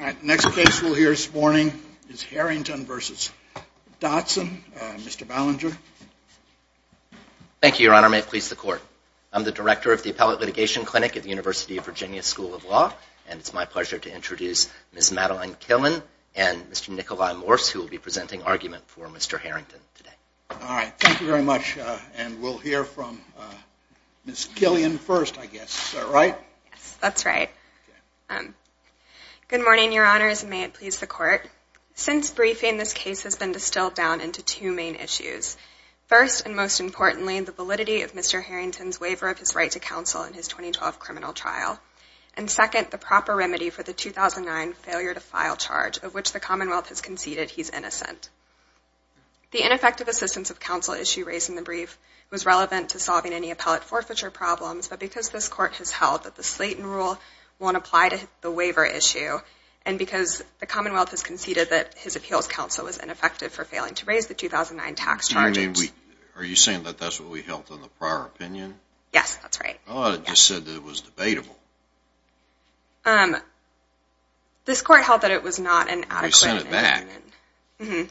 All right, next case we'll hear this morning is Herrington versus Dotson. Mr. Ballinger. Thank you, Your Honor. May it please the court. I'm the director of the Appellate Litigation Clinic at the University of Virginia School of Law. And it's my pleasure to introduce Ms. Madeline Killian and Mr. Nikolai Morse, who will be presenting argument for Mr. Herrington today. All right, thank you very much. And we'll hear from Ms. Killian first, I guess, right? That's right. Good morning, Your Honors, and may it please the court. Since briefing, this case has been distilled down into two main issues. First, and most importantly, the validity of Mr. Herrington's waiver of his right to counsel in his 2012 criminal trial. And second, the proper remedy for the 2009 failure to file charge, of which the Commonwealth has conceded he's innocent. The ineffective assistance of counsel issue raised in the brief was relevant to solving any appellate forfeiture problems. But because this court has held that the Slayton rule won't apply to the waiver issue, and because the Commonwealth has conceded that his appeals counsel was ineffective for failing to raise the 2009 tax charges. Are you saying that that's what we held in the prior opinion? Yes, that's right. I thought it just said that it was debatable. This court held that it was not an adequate opinion. We sent it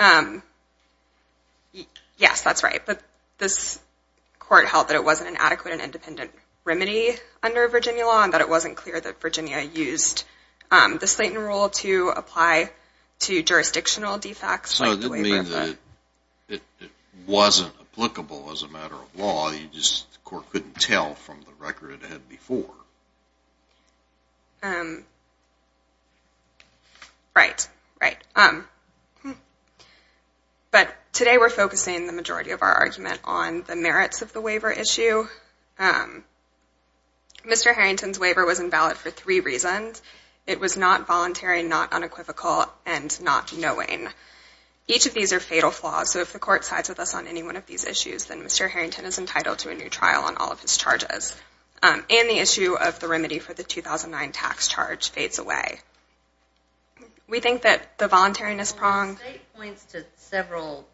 back. Mm-hmm. Yes, that's right. This court held that it wasn't an adequate and independent remedy under Virginia law, and that it wasn't clear that Virginia used the Slayton rule to apply to jurisdictional defects like the waiver of the. So it didn't mean that it wasn't applicable as a matter of law. You just, the court couldn't tell from the record it had before. Right, right. Hm. But today we're focusing the majority of our argument on the merits of the waiver issue. Mr. Harrington's waiver was invalid for three reasons. It was not voluntary, not unequivocal, and not knowing. Each of these are fatal flaws. So if the court sides with us on any one of these issues, then Mr. Harrington is entitled to a new trial on all of his charges. And the issue of the remedy for the 2009 tax charge fades away. We think that the voluntariness pronged. Well, the state points to several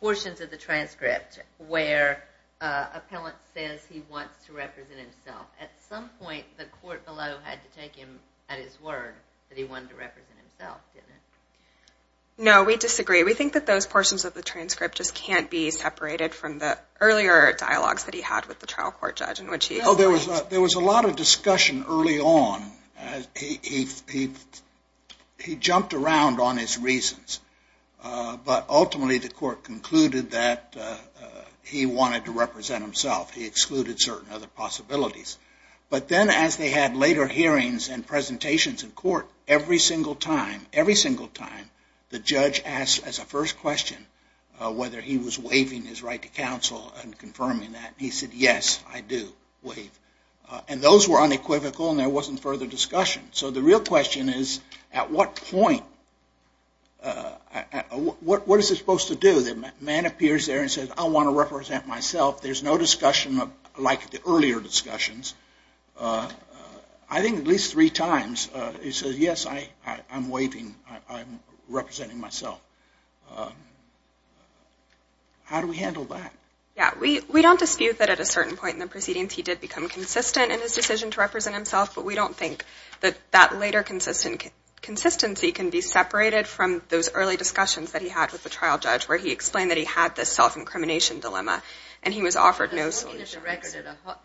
portions of the transcript where an appellant says he wants to represent himself. At some point, the court below had to take him at his word that he wanted to represent himself, didn't it? No, we disagree. We think that those portions of the transcript just can't be separated from the earlier dialogues that he had with the trial court judge in which he explained. No, there was a lot of discussion early on. He jumped around on his reasons. But ultimately, the court concluded that he wanted to represent himself. He excluded certain other possibilities. But then as they had later hearings and presentations in court, every single time, every single time, the judge asked as a first question whether he was waiving his right to counsel and confirming that. He said, yes, I do waive. And those were unequivocal, and there wasn't further discussion. So the real question is, at what point? What is it supposed to do? The man appears there and says, I want to represent myself. There's no discussion like the earlier discussions. I think at least three times, he says, yes, I'm waiving. I'm representing myself. How do we handle that? Yeah, we don't dispute that at a certain point in the proceedings, he did become consistent in his decision to represent himself. But we don't think that that later consistency can be separated from those early discussions that he had with the trial judge, where he explained that he had this self-incrimination dilemma, and he was offered no solutions.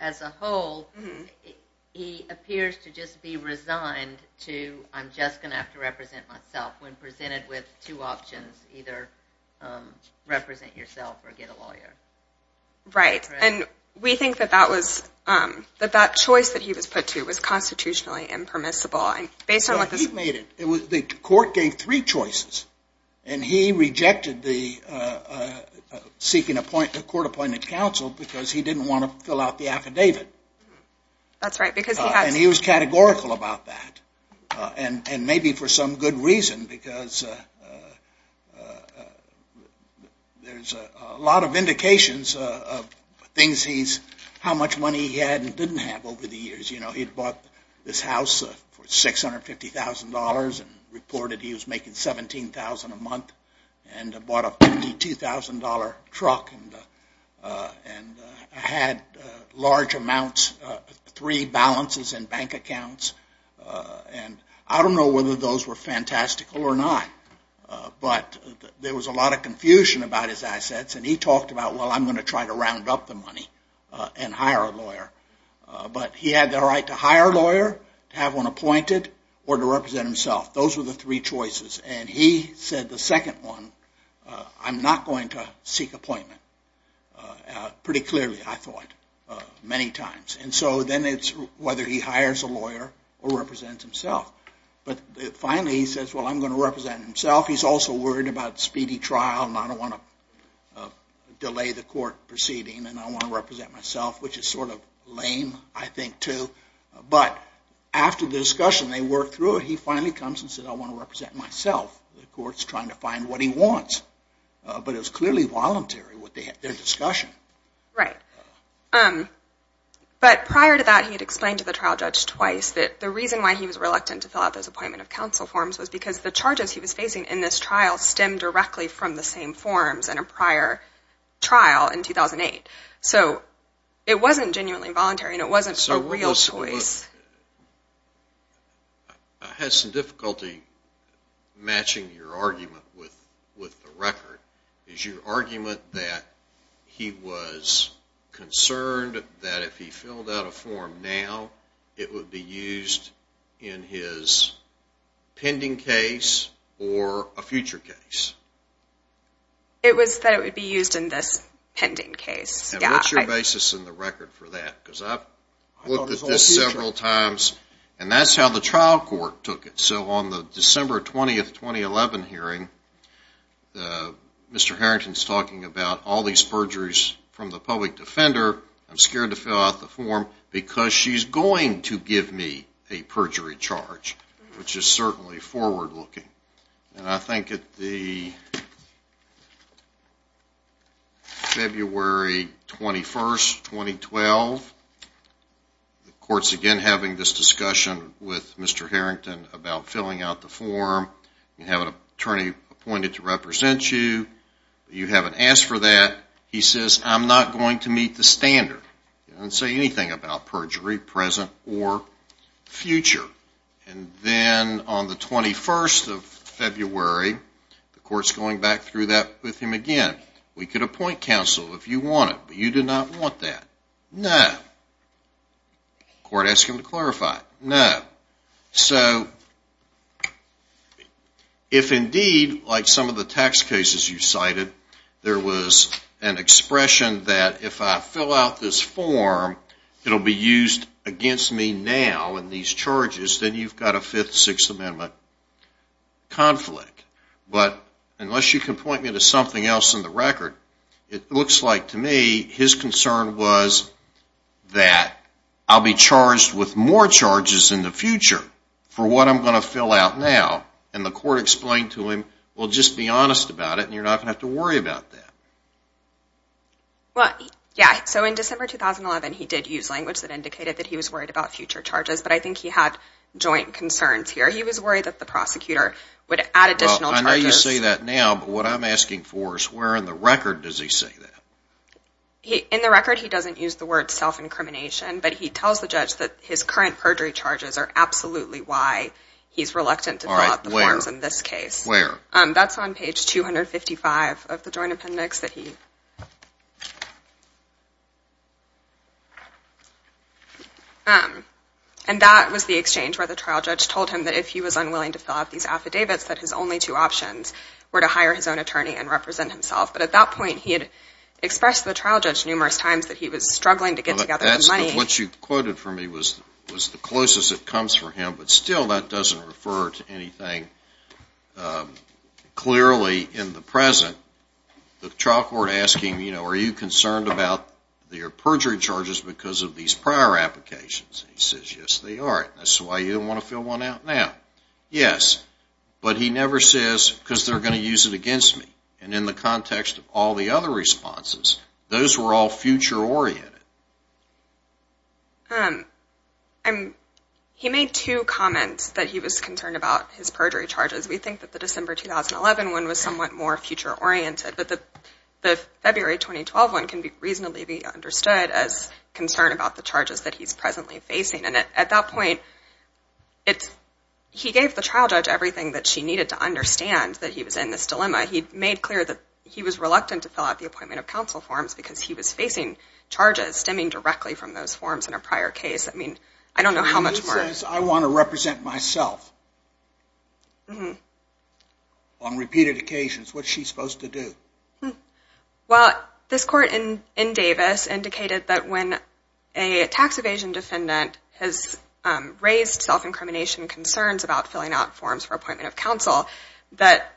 As a whole, he appears to just be resigned to, I'm just going to have to represent myself, when presented with two options, either represent yourself or get a lawyer. Right. And we think that that choice that he was put to was constitutionally impermissible. Based on what this is. He made it. The court gave three choices. And he rejected seeking a court-appointed counsel, because he didn't want to fill out the affidavit. That's right, because he had to. And he was categorical about that. And maybe for some good reason, because there's a lot of indications of things he's, how much money he had and didn't have over the years. You know, he'd bought this house for $650,000, and reported he was making $17,000 a month, and bought a $52,000 truck, and had large amounts, three balances in bank accounts. And I don't know whether those were fantastical or not, but there was a lot of confusion about his assets. And he talked about, well, I'm going to try to round up the money and hire a lawyer. But he had the right to hire a lawyer, have one appointed, or to represent himself. Those were the three choices. And he said the second one, I'm not going to seek appointment. Pretty clearly, I thought, many times. And so then it's whether he hires a lawyer or represents himself. But finally, he says, well, I'm going to represent himself. He's also worried about speedy trial, and I don't want to delay the court proceeding, and I want to represent myself, which is sort of lame, I think, too. But after the discussion, they worked through it. He finally comes and says, I want to represent myself. The court's trying to find what he wants. But it was clearly voluntary, their discussion. Right. But prior to that, he had explained to the trial judge twice that the reason why he was reluctant to fill out those appointment of counsel forms was because the charges he was facing in this trial stemmed directly from the same forms in a prior trial in 2008. So it wasn't genuinely voluntary, and it wasn't a real choice. I had some difficulty matching your argument with the record. Is your argument that he was concerned that if he filled out a form now, it would be used in his pending case or a future case? It was that it would be used in this pending case. And what's your basis in the record for that? Because I've looked at this several times, and that's how the trial court took it. So on the December 20, 2011 hearing, Mr. Harrington's talking about all these perjuries from the public defender. I'm scared to fill out the form, because she's going to give me a perjury charge, which is certainly forward-looking. And I think at the February 21, 2012, the court's again having this discussion with Mr. Harrington about filling out the form. You have an attorney appointed to represent you. You haven't asked for that. He says, I'm not going to meet the standard and say anything about perjury, present or future. And then on the 21st of February, the court's going back through that with him again. We could appoint counsel if you wanted, but you did not want that. No. Court asked him to clarify. No. So if indeed, like some of the tax cases you cited, there was an expression that if I fill out this form, it'll be used against me now in these charges, then you've got a Fifth and Sixth Amendment conflict. But unless you can point me to something else in the record, it looks like to me his concern was that I'll be charged with more charges in the future for what I'm going to fill out now. And the court explained to him, well, just be honest about it, and you're not going to have to worry about that. Well, yeah. So in December 2011, he did use language that indicated that he was worried about future charges, but I think he had joint concerns here. He was worried that the prosecutor would add additional charges. Well, I know you say that now, but what I'm asking for is, where in the record does he say that? In the record, he doesn't use the word self-incrimination, but he tells the judge that his current perjury charges are absolutely why he's reluctant to fill out the forms in this case. Where? That's on page 255 of the Joint Appendix that he... And that was the exchange where the trial judge told him that if he was unwilling to fill out these affidavits, that his only two options were to hire his own attorney and represent himself. But at that point, he had expressed to the trial judge numerous times that he was struggling to get together the money. That's what you quoted for me was the closest it comes for him, but still that doesn't refer to anything clearly in the present. The trial court asked him, are you concerned about your perjury charges because of these prior applications? He says, yes, they are. That's why you don't want to fill one out now. Yes, but he never says, because they're going to use it against me. And in the context of all the other responses, those were all future-oriented. He made two comments that he was concerned about his perjury charges. We think that the December 2011 one was somewhat more future-oriented, but the February 2012 one can reasonably be understood as concern about the charges that he's presently facing. And at that point, he gave the trial judge everything that she needed to understand that he was in this dilemma. He made clear that he was reluctant to fill out And he said, I'm not going to do that. I'm not stemming directly from those forms in a prior case. I don't know how much more. He says, I want to represent myself on repeated occasions. What's she supposed to do? Well, this court in Davis indicated that when a tax evasion defendant has raised self-incrimination concerns about filling out forms for appointment of counsel, that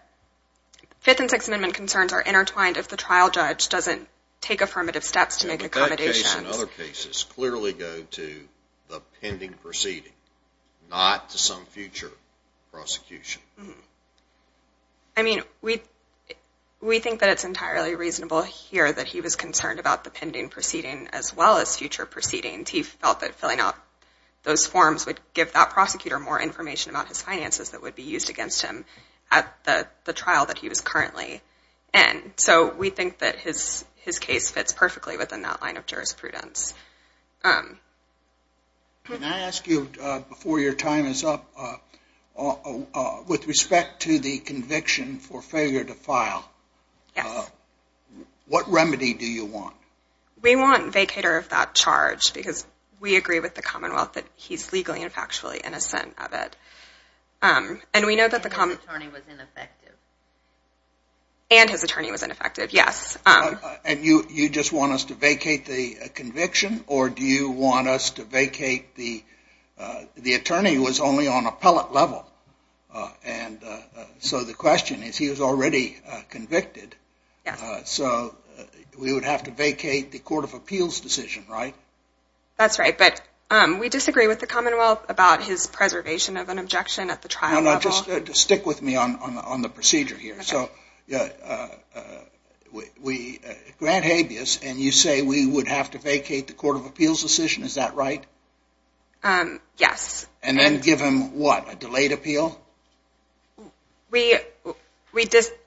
Fifth and Sixth Amendment concerns are intertwined if the trial judge doesn't take affirmative steps to make accommodations. And that case and other cases clearly go to the pending proceeding, not to some future prosecution. I mean, we think that it's entirely reasonable here that he was concerned about the pending proceeding as well as future proceedings. He felt that filling out those forms would give that prosecutor more information about his finances that would be used against him at the trial that he was currently in. So we think that his case fits perfectly within that line of jurisprudence. Can I ask you, before your time is up, with respect to the conviction for failure to file, what remedy do you want? We want vacator of that charge, because we agree with the Commonwealth that he's legally and factually innocent of it. And we know that the common. And his attorney was ineffective. And his attorney was ineffective, yes. And you just want us to vacate the conviction, or do you want us to vacate the attorney who was only on appellate level? And so the question is, he was already convicted. So we would have to vacate the Court of Appeals decision, right? That's right, but we disagree with the Commonwealth about his preservation of an objection at the trial level. Stick with me on the procedure here. So Grant Habeas, and you say we would have to vacate the Court of Appeals decision, is that right? Yes. And then give him what, a delayed appeal? We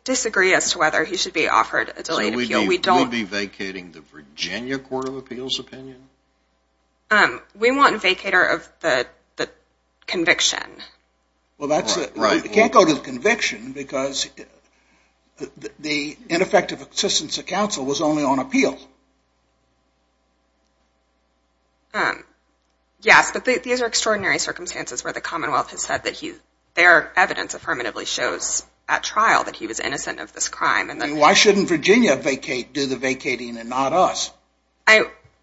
disagree as to whether he should be offered a delayed appeal. So we'll be vacating the Virginia Court of Appeals opinion? We want vacator of the conviction. Well, you can't go to the conviction because the ineffective assistance of counsel was only on appeal. Yes, but these are extraordinary circumstances where the Commonwealth has said that their evidence affirmatively shows at trial that he was innocent of this crime. And then why shouldn't Virginia do the vacating and not us?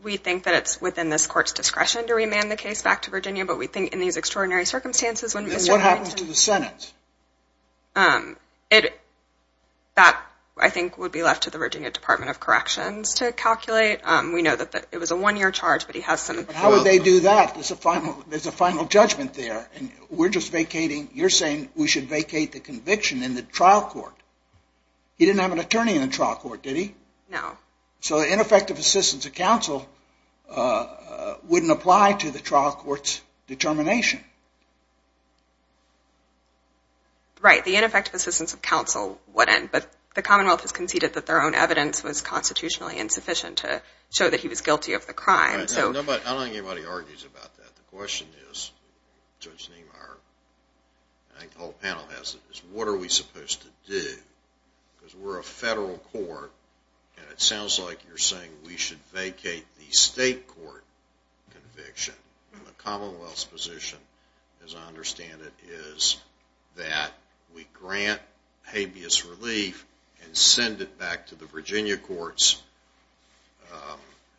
We think that it's within this court's discretion to remand the case back to Virginia. But we think in these extraordinary circumstances when we start going to the Senate. Then what happens to the Senate? That, I think, would be left to the Virginia Department of Corrections to calculate. We know that it was a one-year charge, but he has some time. But how would they do that? There's a final judgment there. And we're just vacating. You're saying we should vacate the conviction in the trial court. He didn't have an attorney in the trial court, did he? No. So ineffective assistance of counsel wouldn't apply to the trial court's determination. Right, the ineffective assistance of counsel wouldn't. But the Commonwealth has conceded that their own evidence was constitutionally insufficient to show that he was guilty of the crime. I don't think anybody argues about that. The question is, Judge Niemeyer, and I think the whole panel has it, is what are we supposed to do? Because we're a federal court, and it is a federal court conviction. The Commonwealth's position, as I understand it, is that we grant habeas relief and send it back to the Virginia courts,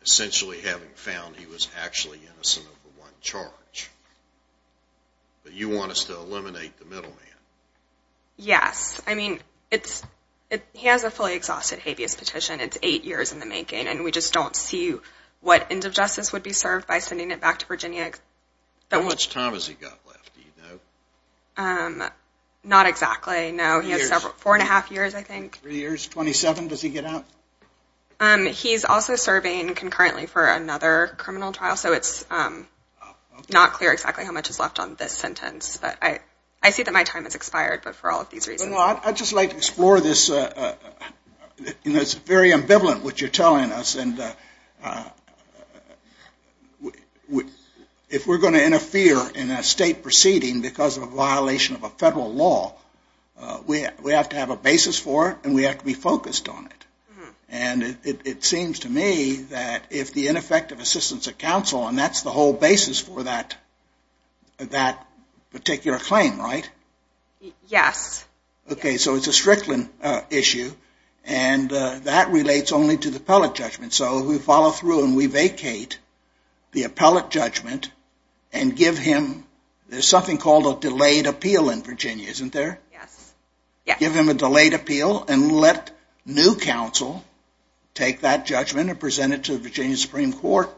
essentially having found he was actually innocent of the one charge. But you want us to eliminate the middleman. Yes. I mean, he has a fully exhausted habeas petition. It's eight years in the making, and we just don't see what end of justice would be served by sending it back to Virginia. How much time has he got left? Not exactly. No, he has four and a half years, I think. Three years. 27, does he get out? He's also serving concurrently for another criminal trial, so it's not clear exactly how much is left on this sentence. But I see that my time has expired, but for all of these reasons. Well, I'd just like to explore this. You know, it's very ambivalent what you're telling us. And if we're going to interfere in a state proceeding because of a violation of a federal law, we have to have a basis for it, and we have to be focused on it. And it seems to me that if the ineffective assistance of counsel, and that's the whole basis for that particular claim, right? Yes. OK, so it's a Strickland issue, and that relates only to the appellate judgment. So we follow through and we vacate the appellate judgment and give him, there's something called a delayed appeal in Virginia, isn't there? Give him a delayed appeal and let new counsel take that judgment and present it to the Virginia Supreme Court,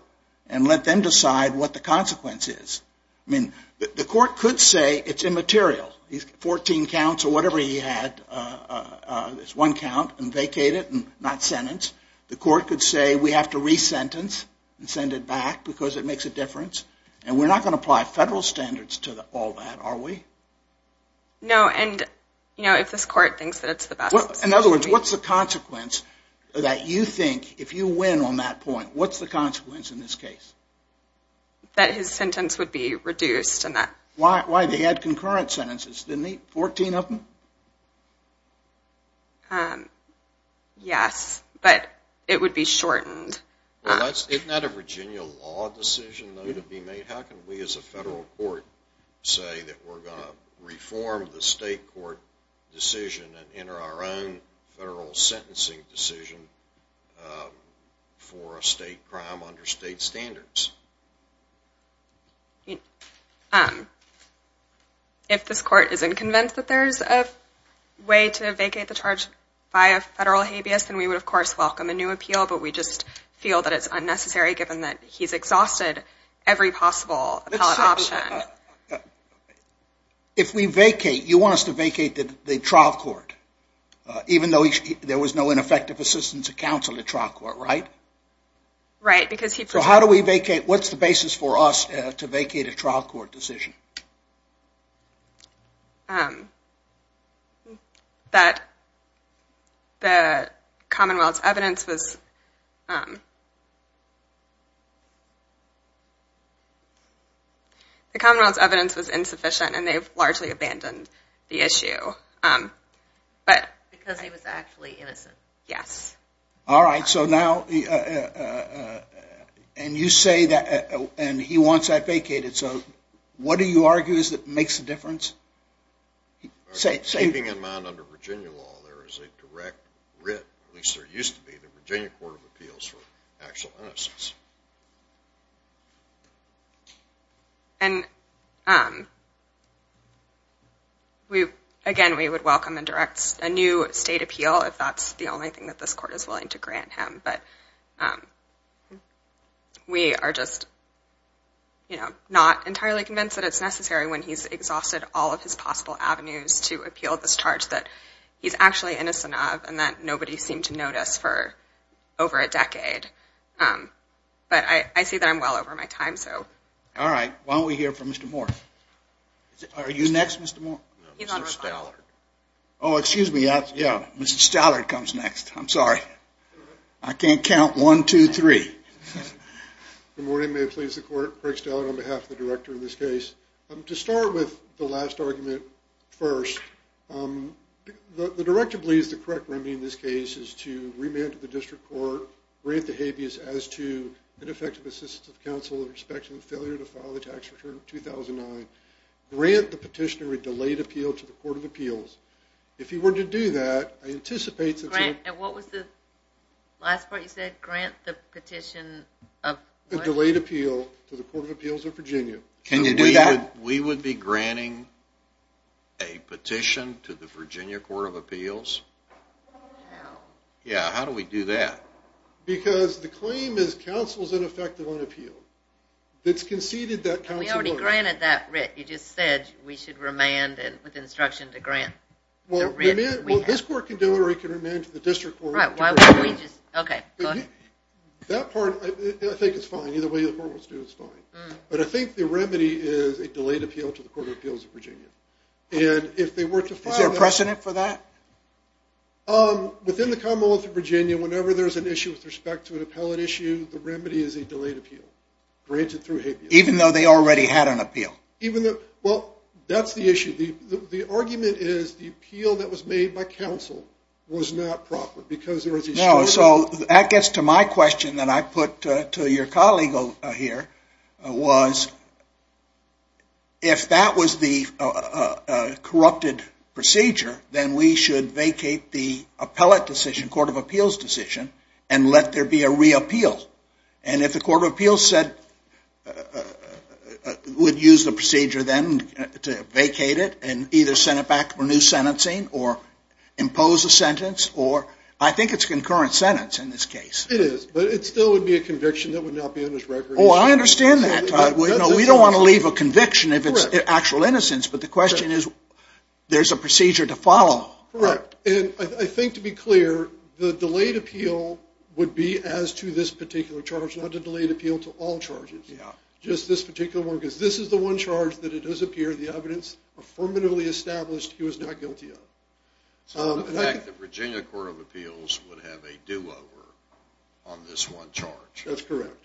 and let them decide what the consequence is. I mean, the court could say it's immaterial. He's 14 counts or whatever he had, it's one count, and vacate it and not sentence. The court could say we have to re-sentence and send it back because it makes a difference. And we're not going to apply federal standards to all that, are we? No, and if this court thinks that it's the best. In other words, what's the consequence that you think, if you win on that point, what's the consequence in this case? That his sentence would be reduced and that. Why, they had concurrent sentences, didn't they? 14 of them? Yes, but it would be shortened. Isn't that a Virginia law decision, though, to be made? How can we as a federal court say that we're going to reform the state court decision and enter our own federal sentencing decision for a state crime under state standards? If this court isn't convinced that there's a way to vacate the charge by a federal habeas, then we would, of course, welcome a new appeal. But we just feel that it's unnecessary, given that he's exhausted every possible option. If we vacate, you want us to vacate the trial court, even though there was no ineffective assistance of counsel at trial court, right? Right, because he proposed. What's the basis for us to vacate a trial court decision? That the Commonwealth's evidence was insufficient, and they've largely abandoned the issue. Because he was actually innocent. Yes. All right, so now, and you say that, and he wants that vacated. So what do you argue is that makes a difference? Keeping in mind under Virginia law, there is a direct writ, at least there used to be, the Virginia Court of Appeals for actual innocence. And again, we would welcome and direct a new state appeal, if that's the only thing that this court is willing to grant him. But we are just not entirely convinced that it's necessary when he's exhausted all of his possible avenues to appeal this charge that he's actually innocent of, and that nobody seemed to notice for over a decade. But I see that I'm well over my time, so. All right, why don't we hear from Mr. Moore. Are you next, Mr. Moore? Mr. Stallard. Oh, excuse me. Mr. Stallard comes next. I'm sorry. I can't count one, two, three. Good morning. May it please the court. Craig Stallard on behalf of the director in this case. To start with the last argument first, the director believes the correct remedy in this case is to remand to the district court, grant the habeas as to ineffective assistance of counsel in respect to the failure to file the tax return of 2009, grant the petitioner a delayed appeal to the Court of Appeals. If you were to do that, I anticipate that you would. Grant, and what was the last part you said? Grant the petitioner a what? A delayed appeal to the Court of Appeals of Virginia. Can you do that? We would be granting a petition to the Virginia Court of Appeals? Yeah, how do we do that? Because the claim is counsel's ineffective on appeal. It's conceded that counsel would. We already granted that, Rick. You just said we should remand with instruction to grant. Well, this court can do it, or it can remand to the district court. Right, why don't we just, OK, go ahead. That part, I think it's fine. Either way the court wants to do it, it's fine. But I think the remedy is a delayed appeal to the Court of Appeals of Virginia. And if they were to file that. Is there a precedent for that? Within the Commonwealth of Virginia, whenever there's an issue with respect to an appellate issue, the remedy is a delayed appeal, granted through habeas. Even though they already had an appeal? Even though, well, that's the issue. The argument is the appeal that was made by counsel was not proper, because there was a shortage. No, so that gets to my question that I put to your colleague here, was if that was the corrupted procedure, then we should vacate the appellate decision, Court of Appeals decision, and let there be a reappeal. And if the Court of Appeals would use the procedure then to vacate it, and either send it back for new sentencing, or impose a sentence, or I think it's concurrent sentence in this case. It is, but it still would be a conviction that would not be on his record. Oh, I understand that. We don't want to leave a conviction if it's actual innocence. But the question is, there's a procedure to follow. Correct. And I think to be clear, the delayed appeal would be as to this particular charge, not to delayed appeal to all charges. Just this particular one, because this is the one charge that it does appear the evidence affirmatively established he was not guilty of. So the fact that Virginia Court of Appeals would have a do-over on this one charge. That's correct.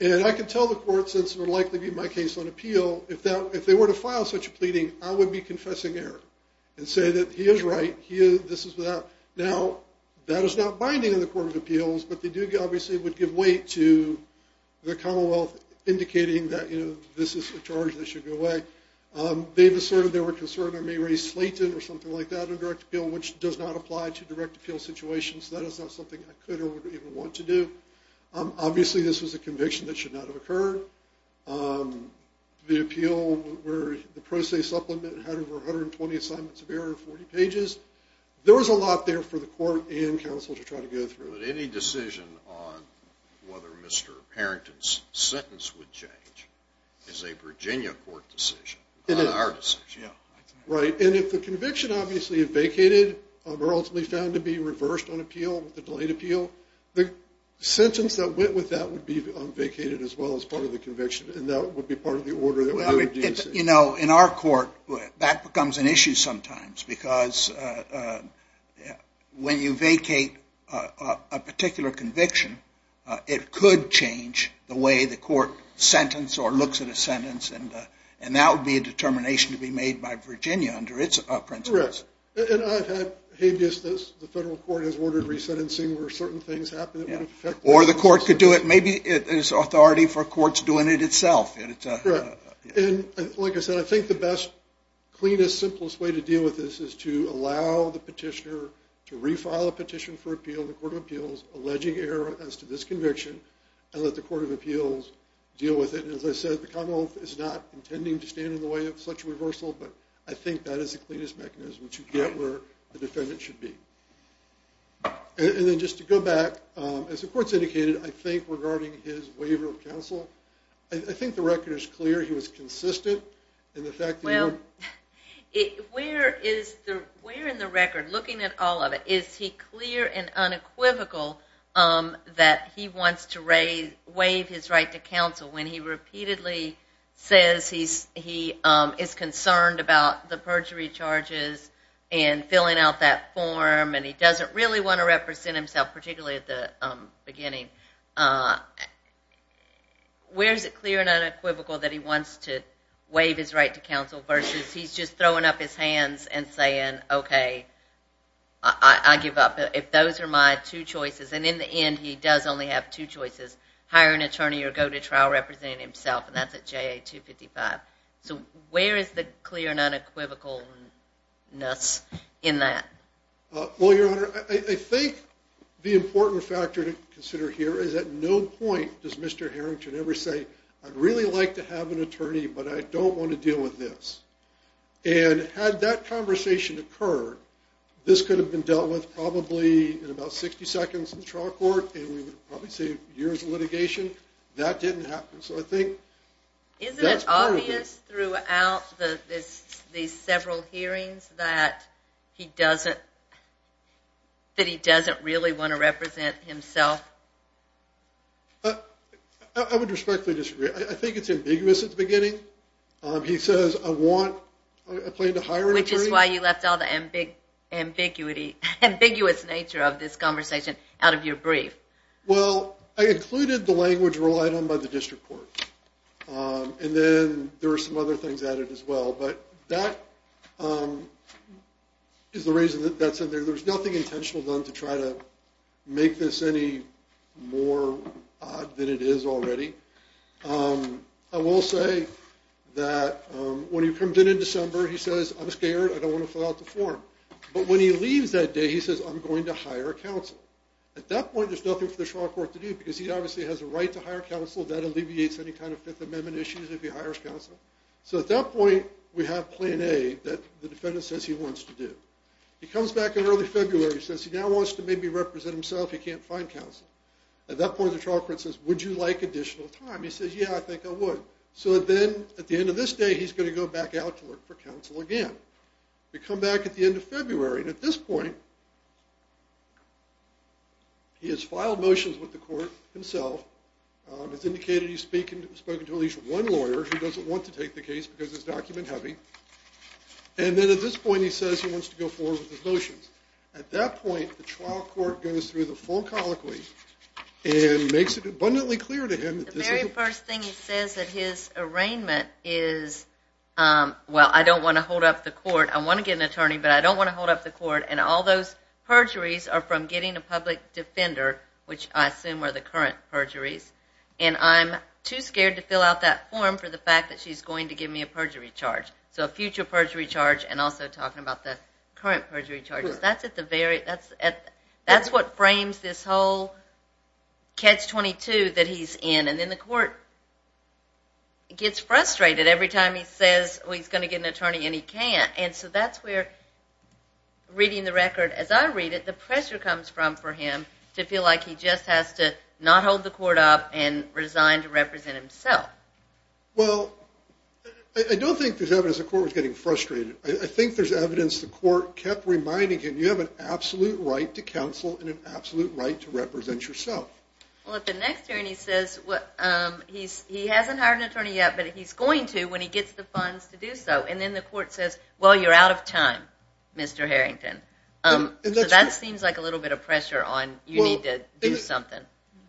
And I can tell the court, since it would likely be my case on appeal, if they were to file such a pleading, I would be confessing error, and say that he is right. Now, that is not binding in the Court of Appeals, but they obviously would give weight to the Commonwealth indicating that this is a charge that should go away. They've asserted they were concerned I may raise Slayton, or something like that on direct appeal, which does not apply to direct appeal situations. That is not something I could or would even want to do. Obviously, this was a conviction that should not have occurred. The appeal where the pro se supplement had over 120 assignments of error, 40 pages. There was a lot there for the court and counsel to try to go through. But any decision on whether Mr. Harrington's sentence would change is a Virginia Court decision, not our decision. Right, and if the conviction obviously vacated or ultimately found to be reversed on appeal, the delayed appeal, the sentence that went with that would be vacated as well as part of the conviction. And that would be part of the order that we would do. You know, in our court, that becomes an issue sometimes. Because when you vacate a particular conviction, it could change the way the court sentenced or looks at a sentence. And that would be a determination to be made by Virginia under its principles. Correct. And I've had behaviors that the federal court has ordered resentencing where certain things happen that would affect the sentence. Or the court could do it. Maybe there's authority for courts doing it itself. Correct. And like I said, I think the best, cleanest, simplest way to deal with this is to allow the petitioner to refile a petition for appeal in the Court of Appeals alleging error as to this conviction and let the Court of Appeals deal with it. And as I said, the common law is not intending to stand in the way of such reversal. But I think that is the cleanest mechanism to get where the defendant should be. And then just to go back, as the court's indicated, I think regarding his waiver of counsel, I think the record is clear. He was consistent in the fact that he would Where in the record, looking at all of it, is he clear and unequivocal that he wants to waive his right to counsel when he repeatedly says he is concerned about the perjury charges and filling out that form, and he doesn't really want to represent himself, particularly at the beginning? Where is it clear and unequivocal that he wants to waive his right to counsel versus he's just throwing up his hands and saying, OK, I give up. If those are my two choices, and in the end he does only have two choices, hire an attorney or go to trial representing himself, and that's at JA 255. So where is the clear and unequivocalness in that? Well, Your Honor, I think the important factor to consider here is at no point does Mr. Harrington ever say, I'd really like to have an attorney, but I don't want to deal with this. And had that conversation occurred, this could have been dealt with probably in about 60 seconds in trial court, and we would probably save years of litigation. That didn't happen. So I think that's part of it. Isn't it obvious throughout these several hearings that he doesn't really want to represent himself? I would respectfully disagree. I think it's ambiguous at the beginning. He says, I want, I plan to hire an attorney. Which is why you left all the ambiguous nature of this conversation out of your brief. Well, I included the language relied on by the district court. And then there are some other things added as well. But that is the reason that that's in there. There's nothing intentional done to try to make this any more odd than it is already. I will say that when he comes in in December, he says, I'm scared. I don't want to fill out the form. But when he leaves that day, he says, I'm going to hire a counsel. At that point, there's nothing for the trial court to do, because he obviously has a right to hire counsel. That alleviates any kind of Fifth Amendment issues if he hires counsel. So at that point, we have plan A that the defendant says he wants to do. He comes back in early February, says he now wants to maybe represent himself. He can't find counsel. At that point, the trial court says, would you like additional time? He says, yeah, I think I would. So then at the end of this day, he's going to go back out to look for counsel again. We come back at the end of February. And at this point, he has filed motions with the court himself. It's indicated he's spoken to at least one lawyer who doesn't want to take the case because it's document heavy. And then at this point, he says he wants to go forward with his motions. At that point, the trial court goes through the full colloquy and makes it abundantly clear to him that this is a- The very first thing he says at his arraignment is, well, I don't want to hold up the court. I want to get an attorney, but I don't want to hold up the court. And all those perjuries are from getting a public defender, which I assume are the current perjuries. And I'm too scared to fill out that form for the fact that she's going to give me a perjury charge, so a future perjury charge and also talking about the current perjury charges. That's what frames this whole catch-22 that he's in. And then the court gets frustrated every time he says he's going to get an attorney, and he can't. And so that's where, reading the record as I read it, the pressure comes from for him to feel like he just has to not hold the court up and resign to represent himself. Well, I don't think there's evidence the court was getting frustrated. I think there's evidence the court kept reminding him, you have an absolute right to counsel and an absolute right to represent yourself. Well, at the next hearing, he says he hasn't hired an attorney yet, but he's going to when he gets the funds to do so. And then the court says, well, you're out of time, Mr. Harrington. That seems like a little bit of pressure on, you need to do something.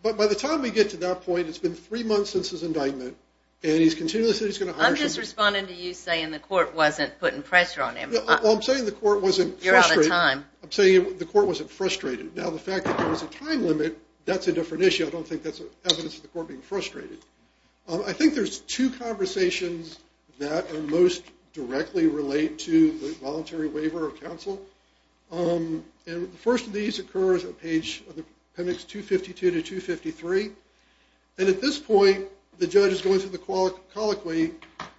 But by the time we get to that point, it's been three months since his indictment, and he's continually said he's going to hire someone. I'm just responding to you saying the court wasn't putting pressure on him. Well, I'm saying the court wasn't frustrated. You're out of time. I'm saying the court wasn't frustrated. Now, the fact that there was a time limit, that's a different issue. I don't think that's evidence of the court being frustrated. I think there's two conversations that most directly relate to the voluntary waiver of counsel. And the first of these occurs on page, appendix 252 to 253. And at this point, the judge is going through the colloquy,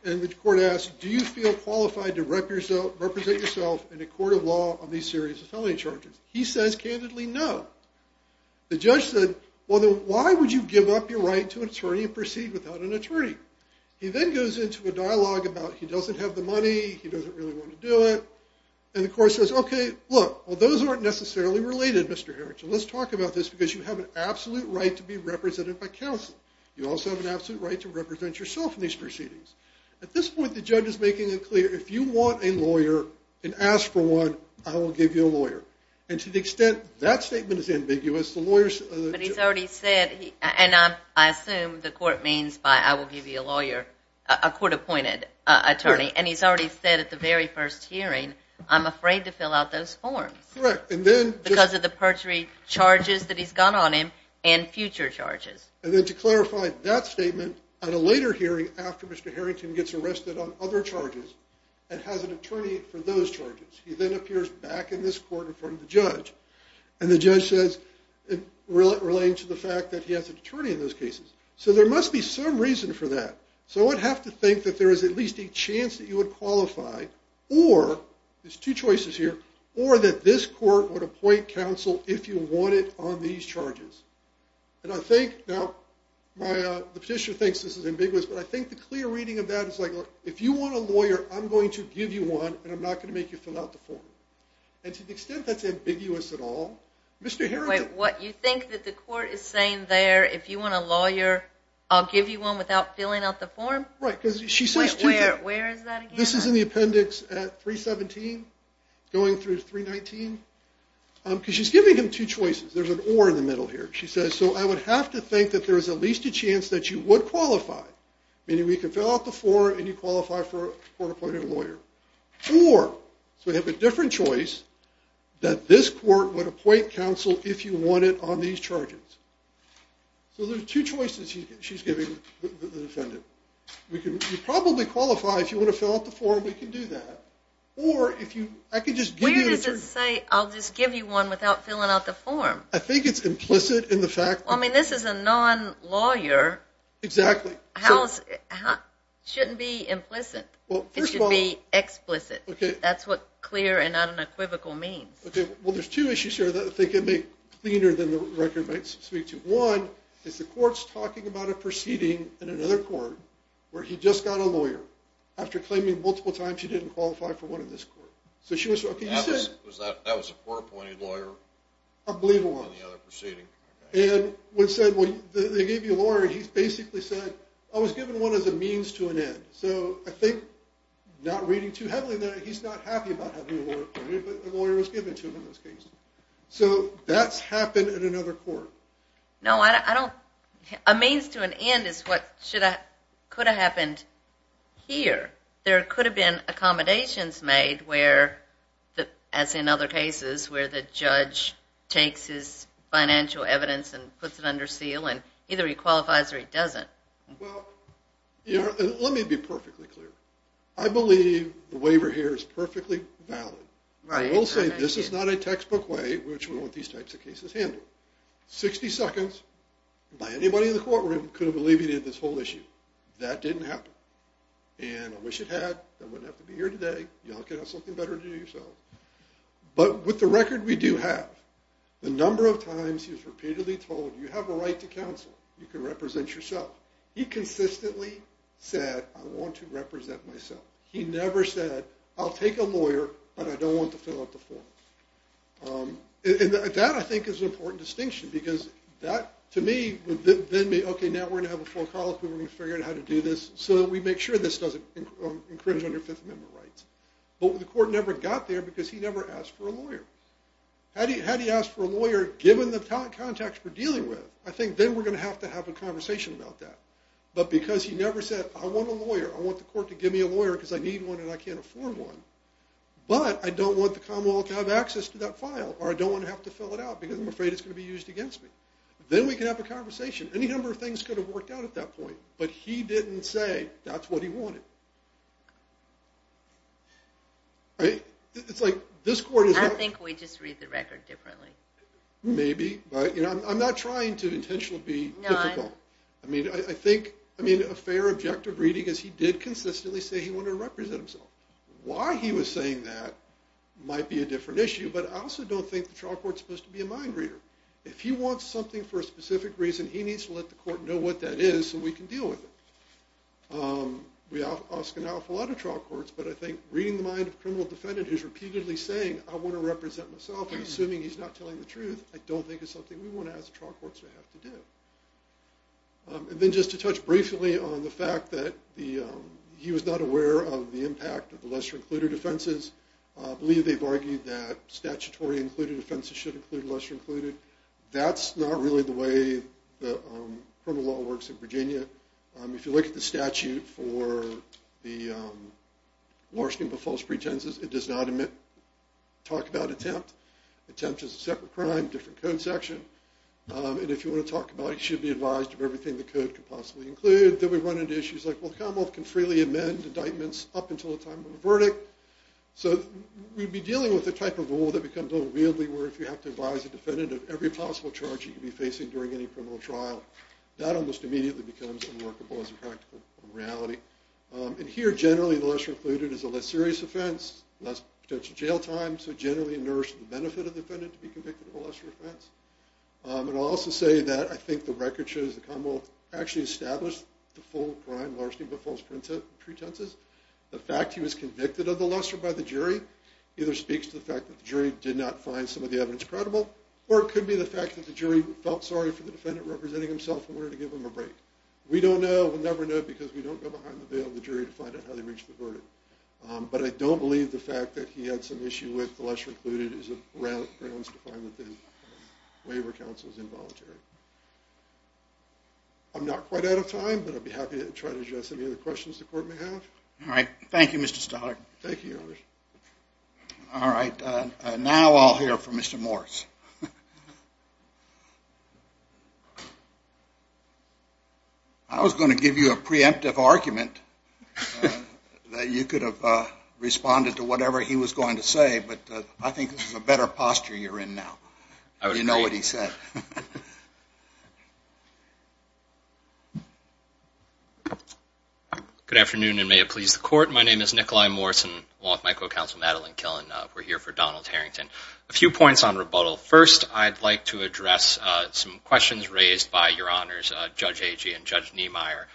and the court asks, do you feel qualified to represent yourself in a court of law on these serious felony charges? He says, candidly, no. The judge said, well, then why would you give up your right to an attorney and proceed without an attorney? He then goes into a dialogue about he doesn't have the money, he doesn't really want to do it. And the court says, OK, look, well, those aren't necessarily related, Mr. Harrington. Let's talk about this, because you have an absolute right to be represented by counsel. You also have an absolute right to represent yourself in these proceedings. At this point, the judge is making it clear, if you want a lawyer, and ask for one, I will give you a lawyer. And to the extent that statement is ambiguous, the lawyers But he's already said, and I assume the court means by I will give you a lawyer, a court-appointed attorney. And he's already said at the very first hearing, I'm afraid to fill out those forms. Correct, and then Because of the perjury charges that he's got on him and future charges. And then to clarify that statement, at a later hearing, after Mr. Harrington gets arrested on other charges, and has an attorney for those charges, he then appears back in this court in front of the judge. And the judge says, relating to the fact that he has an attorney in those cases. So there must be some reason for that. So I would have to think that there is at least a chance that you would qualify, or, there's two choices here, or that this court would appoint counsel if you want it on these charges. And I think, now, the petitioner thinks this is ambiguous, but I think the clear reading of that is like, if you want a lawyer, I'm going to give you one, and I'm not going to make you fill out the form. And to the extent that's ambiguous at all, Mr. Harrington Wait, what you think that the court is saying there, if you want a lawyer, I'll give you one without filling out the form? Right, because she says two choices. Where is that again? This is in the appendix at 317, going through 319. Because she's giving him two choices. There's an or in the middle here. She says, so I would have to think that there is at least a chance that you would qualify, meaning we can fill out the form and you qualify for a court-appointed lawyer. Or, so we have a different choice, that this court would appoint counsel if you want it on these charges. So there's two choices she's giving the defendant. We could probably qualify if you want to fill out the form. We can do that. Or if you, I could just give you an attorney. Where does it say, I'll just give you one without filling out the form? I think it's implicit in the fact that. Well, I mean, this is a non-lawyer. Exactly. Shouldn't be implicit. It should be explicit. That's what clear and unequivocal means. OK, well, there's two issues here that I think it may be cleaner than the record might speak to. One is the court's talking about a proceeding in another court where he just got a lawyer. After claiming multiple times he didn't qualify for one in this court. So she was, OK, you said. That was a court-appointed lawyer? I believe it was on the other proceeding. And when they gave you a lawyer, he basically said, I was given one as a means to an end. So I think, not reading too heavily there, he's not happy about having a lawyer appointed, but the lawyer was given to him in this case. So that's happened in another court. No, a means to an end is what could have happened here. There could have been accommodations made where, as in other cases, where the judge takes his financial evidence and puts it under seal, and either he qualifies or he doesn't. Well, let me be perfectly clear. I believe the waiver here is perfectly valid. I will say this is not a textbook way which we want these types of cases handled. 60 seconds by anybody in the courtroom could have alleviated this whole issue. That didn't happen. And I wish it had. I wouldn't have to be here today. You all could have something better to do yourself. But with the record we do have, the number of times he was repeatedly told, you have a right to counsel. You can represent yourself. He consistently said, I want to represent myself. He never said, I'll take a lawyer, but I don't want to fill out the form. And that, I think, is an important distinction. Because that, to me, would then be, OK, now we're going to have a full collective, and we're going to figure out how to do this, so that we make sure this doesn't incringe on your Fifth Amendment rights. But the court never got there, because he never asked for a lawyer. Had he asked for a lawyer, given the context we're dealing with, I think then we're going to have to have a conversation about that. But because he never said, I want a lawyer. I want the court to give me a lawyer, because I need one and I can't afford one. But I don't want the Commonwealth to have access to that file, or I don't want to have to fill it out, because I'm afraid it's going to be used against me. Then we can have a conversation. Any number of things could have worked out at that point. But he didn't say, that's what he wanted. It's like, this court is not. I think we just read the record differently. Maybe. I'm not trying to intentionally be difficult. I mean, I think a fair objective reading is he did consistently say he wanted to represent himself. Why he was saying that might be a different issue, but I also don't think the trial court's supposed to be a mind reader. If he wants something for a specific reason, he needs to let the court know what that is, so we can deal with it. We ask an awful lot of trial courts, but I think reading the mind of a criminal defendant who's repeatedly saying, I want to represent myself, and assuming he's not telling the truth, I don't think it's something we want to ask the trial courts to have to do. And then just to touch briefly on the fact that he was not aware of the impact of the lesser included offenses. I believe they've argued that statutory included offenses should include lesser included. That's not really the way the criminal law works in Virginia. If you look at the statute for the large group of false pretenses, it does not talk about attempt. Attempt is a separate crime, different code section. And if you want to talk about it, you should be advised of everything the code could possibly include. Then we run into issues like, well, the Commonwealth can freely amend indictments up until the time of the verdict. So we'd be dealing with a type of rule that becomes a little weirdly where if you have to advise a defendant of every possible charge you could be facing during any criminal trial, that almost immediately becomes unworkable as a practical reality. And here, generally, the lesser included is a less serious offense, less potential jail time. So generally, a nurse, the benefit of the defendant to be convicted of a lesser offense. And I'll also say that I think the record shows the Commonwealth actually established the full crime largely of the false pretenses. The fact he was convicted of the lesser by the jury either speaks to the fact that the jury did not find some of the evidence credible, or it could be the fact that the jury felt sorry for the defendant representing himself in order to give him a break. We don't know. We'll never know, because we don't go behind the veil of the jury to find out how they reached the verdict. But I don't believe the fact that he had some issue with the lesser included is a grounds to find that the waiver counsel is involuntary. I'm not quite out of time, but I'd be happy to try to address any other questions the court may have. All right. Thank you, Mr. Stoller. Thank you, Your Honor. All right. Now I'll hear from Mr. Morse. I was going to give you a preemptive argument that you could have responded to whatever he was going to say, but I think this is a better posture you're in now. You know what he said. Good afternoon, and may it please the court. My name is Nikolai Morse, and along with my co-counsel Madeline Killen, we're here for Donald Harrington. A few points on rebuttal. First, I'd like to address some questions raised by Your Honors, Judge Agee and Judge Niemeyer.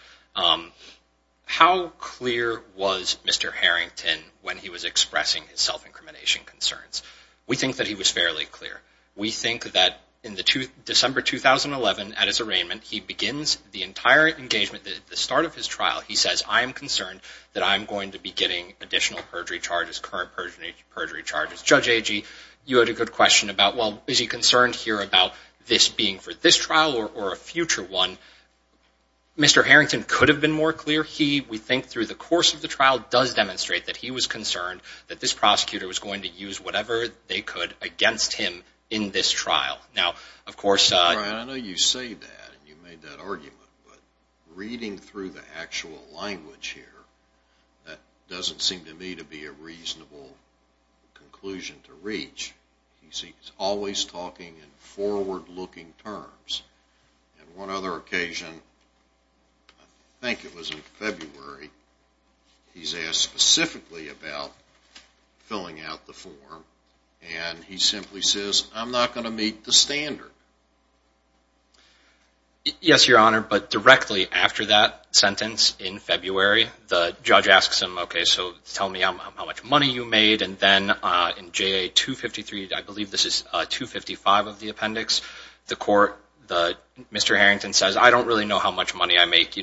How clear was Mr. Harrington when he was expressing his self-incrimination concerns? We think that he was fairly clear. We think that in December 2011, at his arraignment, he begins the entire engagement. At the start of his trial, he says, I am concerned that I'm going to be getting additional perjury charges, current perjury charges. Judge Agee, you had a good question about, well, is he concerned here about this being for this trial or a future one? Mr. Harrington could have been more clear. We think through the course of the trial does demonstrate that he was concerned that this prosecutor was going to use whatever they could against him in this trial. Now, of course, Brian, I know you say that, and you made that argument. But reading through the actual language here, that doesn't seem to me to be a reasonable conclusion to reach. He's always talking in forward-looking terms. And one other occasion, I think it was in February, he's asked specifically about filling out the form. And he simply says, I'm not going to meet the standard. Yes, Your Honor, but directly after that sentence in February, the judge asks him, OK, so tell me how much money you made. And then in JA 253, I believe this is 255 of the appendix, the court, Mr. Harrington says, I don't really know how much money I make.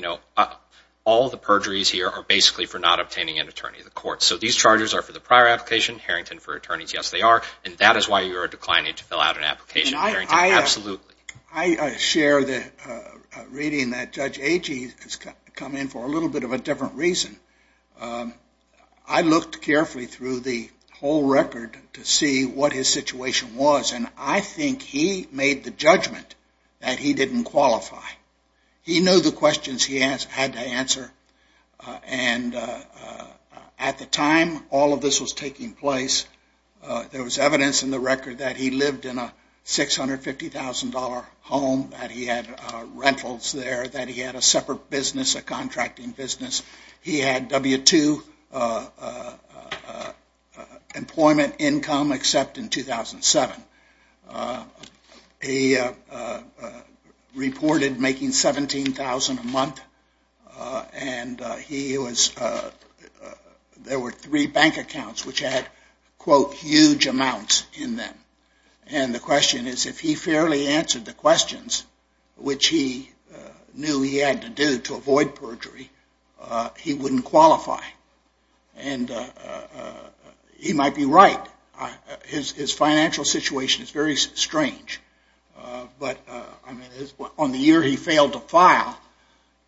All the perjuries here are basically for not obtaining an attorney in the court. So these charges are for the prior application, Harrington for attorneys. Yes, they are. And that is why you are declining to fill out an application, absolutely. I share the reading that Judge Agee has come in for a little bit of a different reason. I looked carefully through the whole record to see what his situation was. And I think he made the judgment that he didn't qualify. He knew the questions he had to answer. And at the time all of this was taking place, there was evidence in the record that he had a $1,000 home, that he had rentals there, that he had a separate business, a contracting business. He had W-2 employment income, except in 2007. He reported making $17,000 a month. And there were three bank accounts which had, quote, huge amounts in them. And the question is, if he fairly answered the questions, which he knew he had to do to avoid perjury, he wouldn't qualify. And he might be right. His financial situation is very strange. But on the year he failed to file,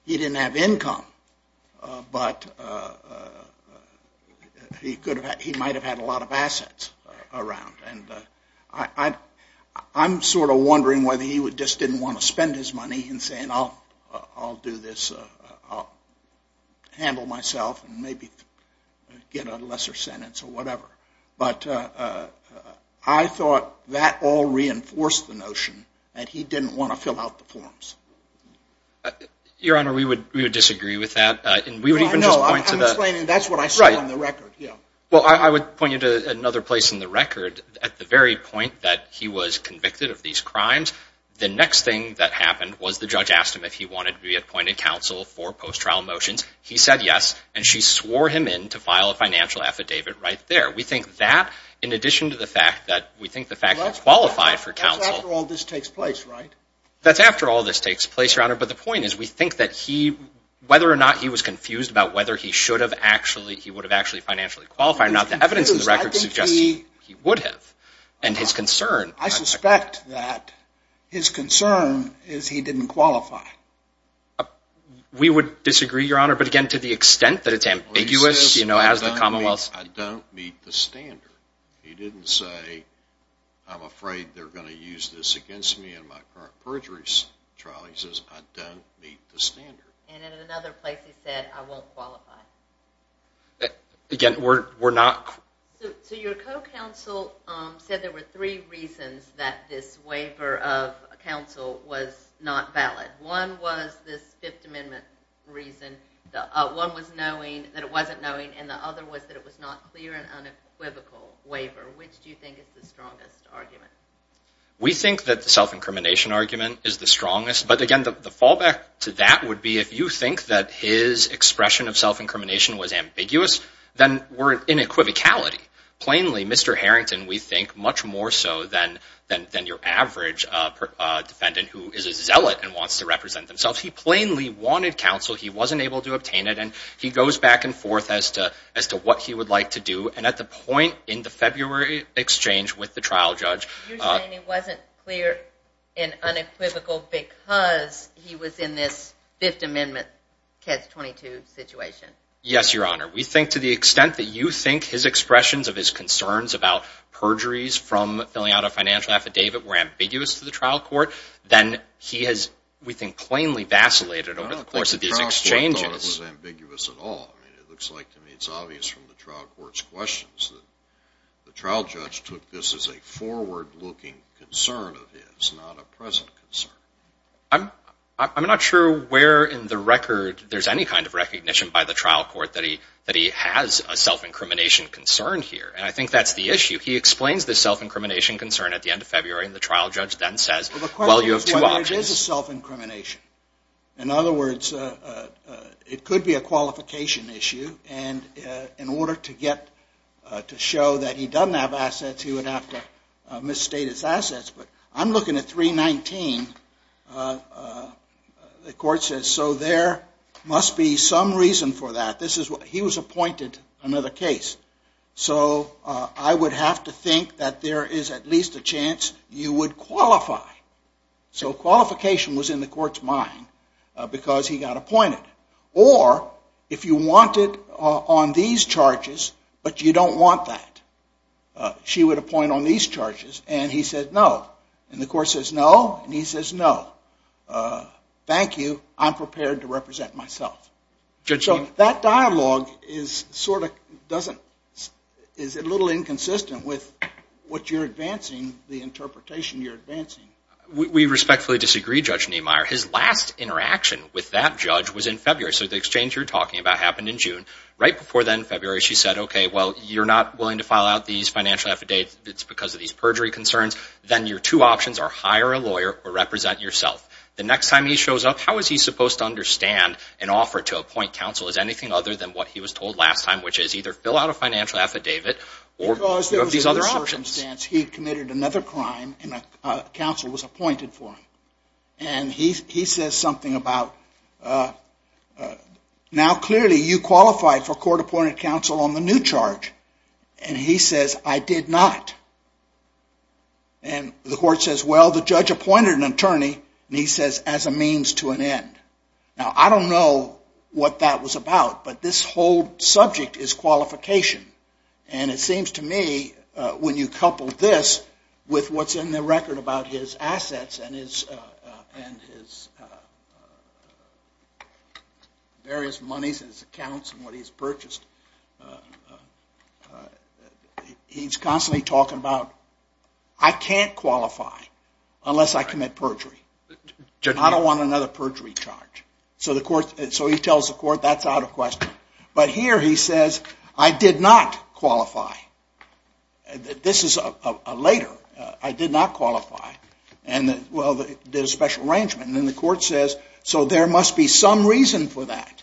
he didn't have income. But he might have had a lot of assets around. And I'm sort of wondering whether he just didn't want to spend his money in saying, I'll do this. I'll handle myself and maybe get a lesser sentence or whatever. But I thought that all reinforced the notion that he didn't want to fill out the forms. Your Honor, we would disagree with that. And we would even just point to that. That's what I saw in the record. Well, I would point you to another place in the record at the very point that he was convicted of these crimes. The next thing that happened was the judge asked him if he wanted to be appointed counsel for post-trial motions. He said yes. And she swore him in to file a financial affidavit right there. We think that, in addition to the fact that we think the fact that he's qualified for counsel. That's after all this takes place, right? That's after all this takes place, Your Honor. But the point is, we think that whether or not he was confused about whether he would have actually financially qualified or not, the evidence in the record suggests he would have. And his concern. I suspect that his concern is he didn't qualify. We would disagree, Your Honor. But again, to the extent that it's ambiguous, you know, as the commonwealth. I don't meet the standard. He didn't say, I'm afraid they're going to use this against me in my current perjuries trial. He says, I don't meet the standard. And in another place, he said, I won't qualify. Again, we're not. So your co-counsel said there were three reasons that this waiver of counsel was not valid. One was this Fifth Amendment reason. One was knowing that it wasn't knowing. And the other was that it was not clear and unequivocal waiver. Which do you think is the strongest argument? We think that the self-incrimination argument is the strongest. But again, the fallback to that would be if you think that his expression of self-incrimination was ambiguous, then we're in equivocality. Plainly, Mr. Harrington, we think, much more so than your average defendant who is a zealot and wants to represent themselves. He plainly wanted counsel. He wasn't able to obtain it. And he goes back and forth as to what he would like to do. And at the point in the February exchange with the trial judge, You're saying it wasn't clear and unequivocal because he was in this Fifth Amendment, KEDS 22 situation? Yes, Your Honor. We think, to the extent that you think his expressions of his concerns about perjuries from filling out a financial affidavit were ambiguous to the trial court, then he has, we think, plainly vacillated over the course of these exchanges. I don't think the trial court thought it was ambiguous at all. I mean, it looks like to me it's obvious from the trial court's questions that the trial judge took this as a forward-looking concern of his, not a present concern. I'm not sure where in the record there's any kind of recognition by the trial court that he has a self-incrimination concern here. And I think that's the issue. He explains the self-incrimination concern at the end of February. And the trial judge then says, well, you have two options. Well, the question is whether it is a self-incrimination. In other words, it could be a qualification issue. And in order to get to show that he doesn't have assets, he would have to misstate his assets. But I'm looking at 319. And the court says, so there must be some reason for that. He was appointed another case. So I would have to think that there is at least a chance you would qualify. So qualification was in the court's mind because he got appointed. Or if you wanted on these charges, but you don't want that, she would appoint on these charges. And he said no. And the court says no. And he says no. Thank you. I'm prepared to represent myself. So that dialogue is a little inconsistent with what you're advancing, the interpretation you're advancing. We respectfully disagree, Judge Niemeyer. His last interaction with that judge was in February. So the exchange you're talking about happened in June. Right before then, February, she said, OK, well, you're not willing to file out these financial affidavits because of these perjury concerns. Then your two options are hire a lawyer or represent yourself. The next time he shows up, how is he supposed to understand an offer to appoint counsel as anything other than what he was told last time, which is either fill out a financial affidavit or do these other options. Because there was another circumstance. He committed another crime, and a counsel was appointed for him. And he says something about, now clearly you qualified for court-appointed counsel on the new charge. And he says, I did not. And the court says, well, the judge appointed an attorney. And he says, as a means to an end. Now, I don't know what that was about, but this whole subject is qualification. And it seems to me, when you couple this with what's in the record about his assets and his various He's constantly talking about, I can't qualify unless I commit perjury. I don't want another perjury charge. So he tells the court, that's out of question. But here he says, I did not qualify. This is later. I did not qualify. And well, there's a special arrangement. And then the court says, so there must be some reason for that.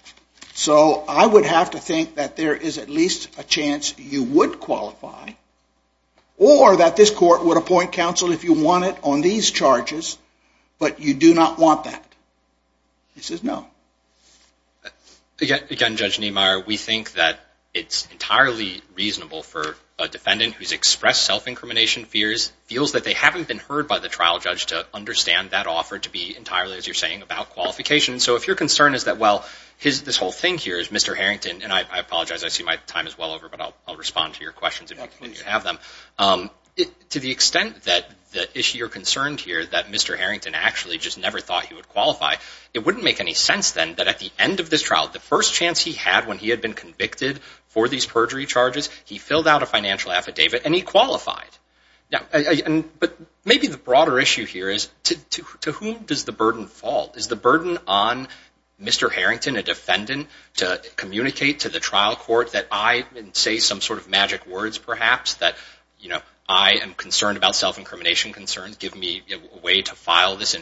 So I would have to think that there is at least a chance you would qualify. Or that this court would appoint counsel if you want it on these charges, but you do not want that. He says, no. Again, Judge Niemeyer, we think that it's entirely reasonable for a defendant who's expressed self-incrimination fears, feels that they haven't been heard by the trial judge to understand that offer to be entirely, as you're saying, about qualification. So if your concern is that, well, this whole thing here is Mr. Harrington, and I apologize, I see my time is well over. But I'll respond to your questions if you have them. To the extent that you're concerned here that Mr. Harrington actually just never thought he would qualify, it wouldn't make any sense then that at the end of this trial, the first chance he had when he had been convicted for these perjury charges, he filled out a financial affidavit and he qualified. But maybe the broader issue here is, to whom does the burden fall? Is the burden on Mr. Harrington, a defendant, to communicate to the trial court that I didn't say some sort of magic words, perhaps, that I am concerned about self-incrimination concerns, give me a way to file this,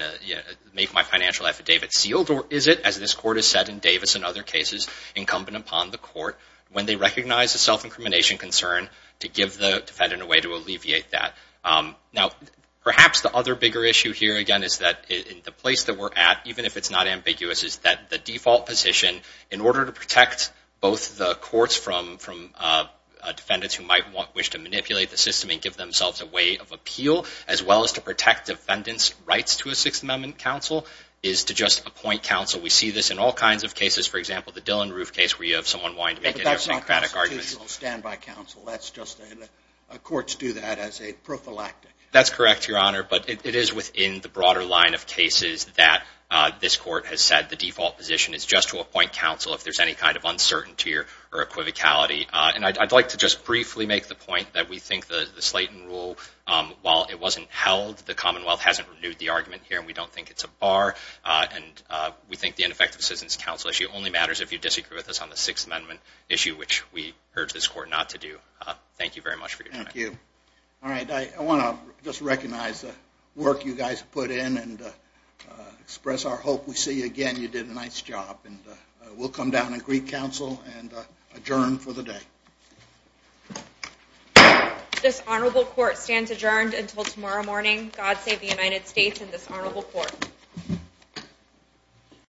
make my financial affidavit sealed? Or is it, as this court has said in Davis and other cases, incumbent upon the court, when they recognize a self-incrimination concern, to give the defendant a way to alleviate that? Now, perhaps the other bigger issue here, again, is that the place that we're at, even if it's not ambiguous, is that the default position, in order to protect both the courts from defendants who might wish to manipulate the system and give themselves a way of appeal, as well as to protect defendants' rights to a Sixth Amendment counsel, is to just appoint counsel. We see this in all kinds of cases. For example, the Dillon Roof case, where you have someone wanting to make a idiosyncratic argument. But that's not constitutional standby counsel. Courts do that as a prophylactic. That's correct, Your Honor. But it is within the broader line of cases that this court has said the default position is just to appoint counsel if there's any kind of uncertainty or equivocality. And I'd like to just briefly make the point that we think the Slayton Rule, while it wasn't held, the Commonwealth hasn't renewed the argument here. And we don't think it's a bar. And we think the ineffective citizens counsel issue only matters if you disagree with us on the Sixth Amendment issue, which we urge this court not to do. Thank you very much for your time. Thank you. All right, I want to just recognize work you guys put in and express our hope we see you again. You did a nice job. And we'll come down and greet counsel and adjourn for the day. This honorable court stands adjourned until tomorrow morning. God save the United States and this honorable court.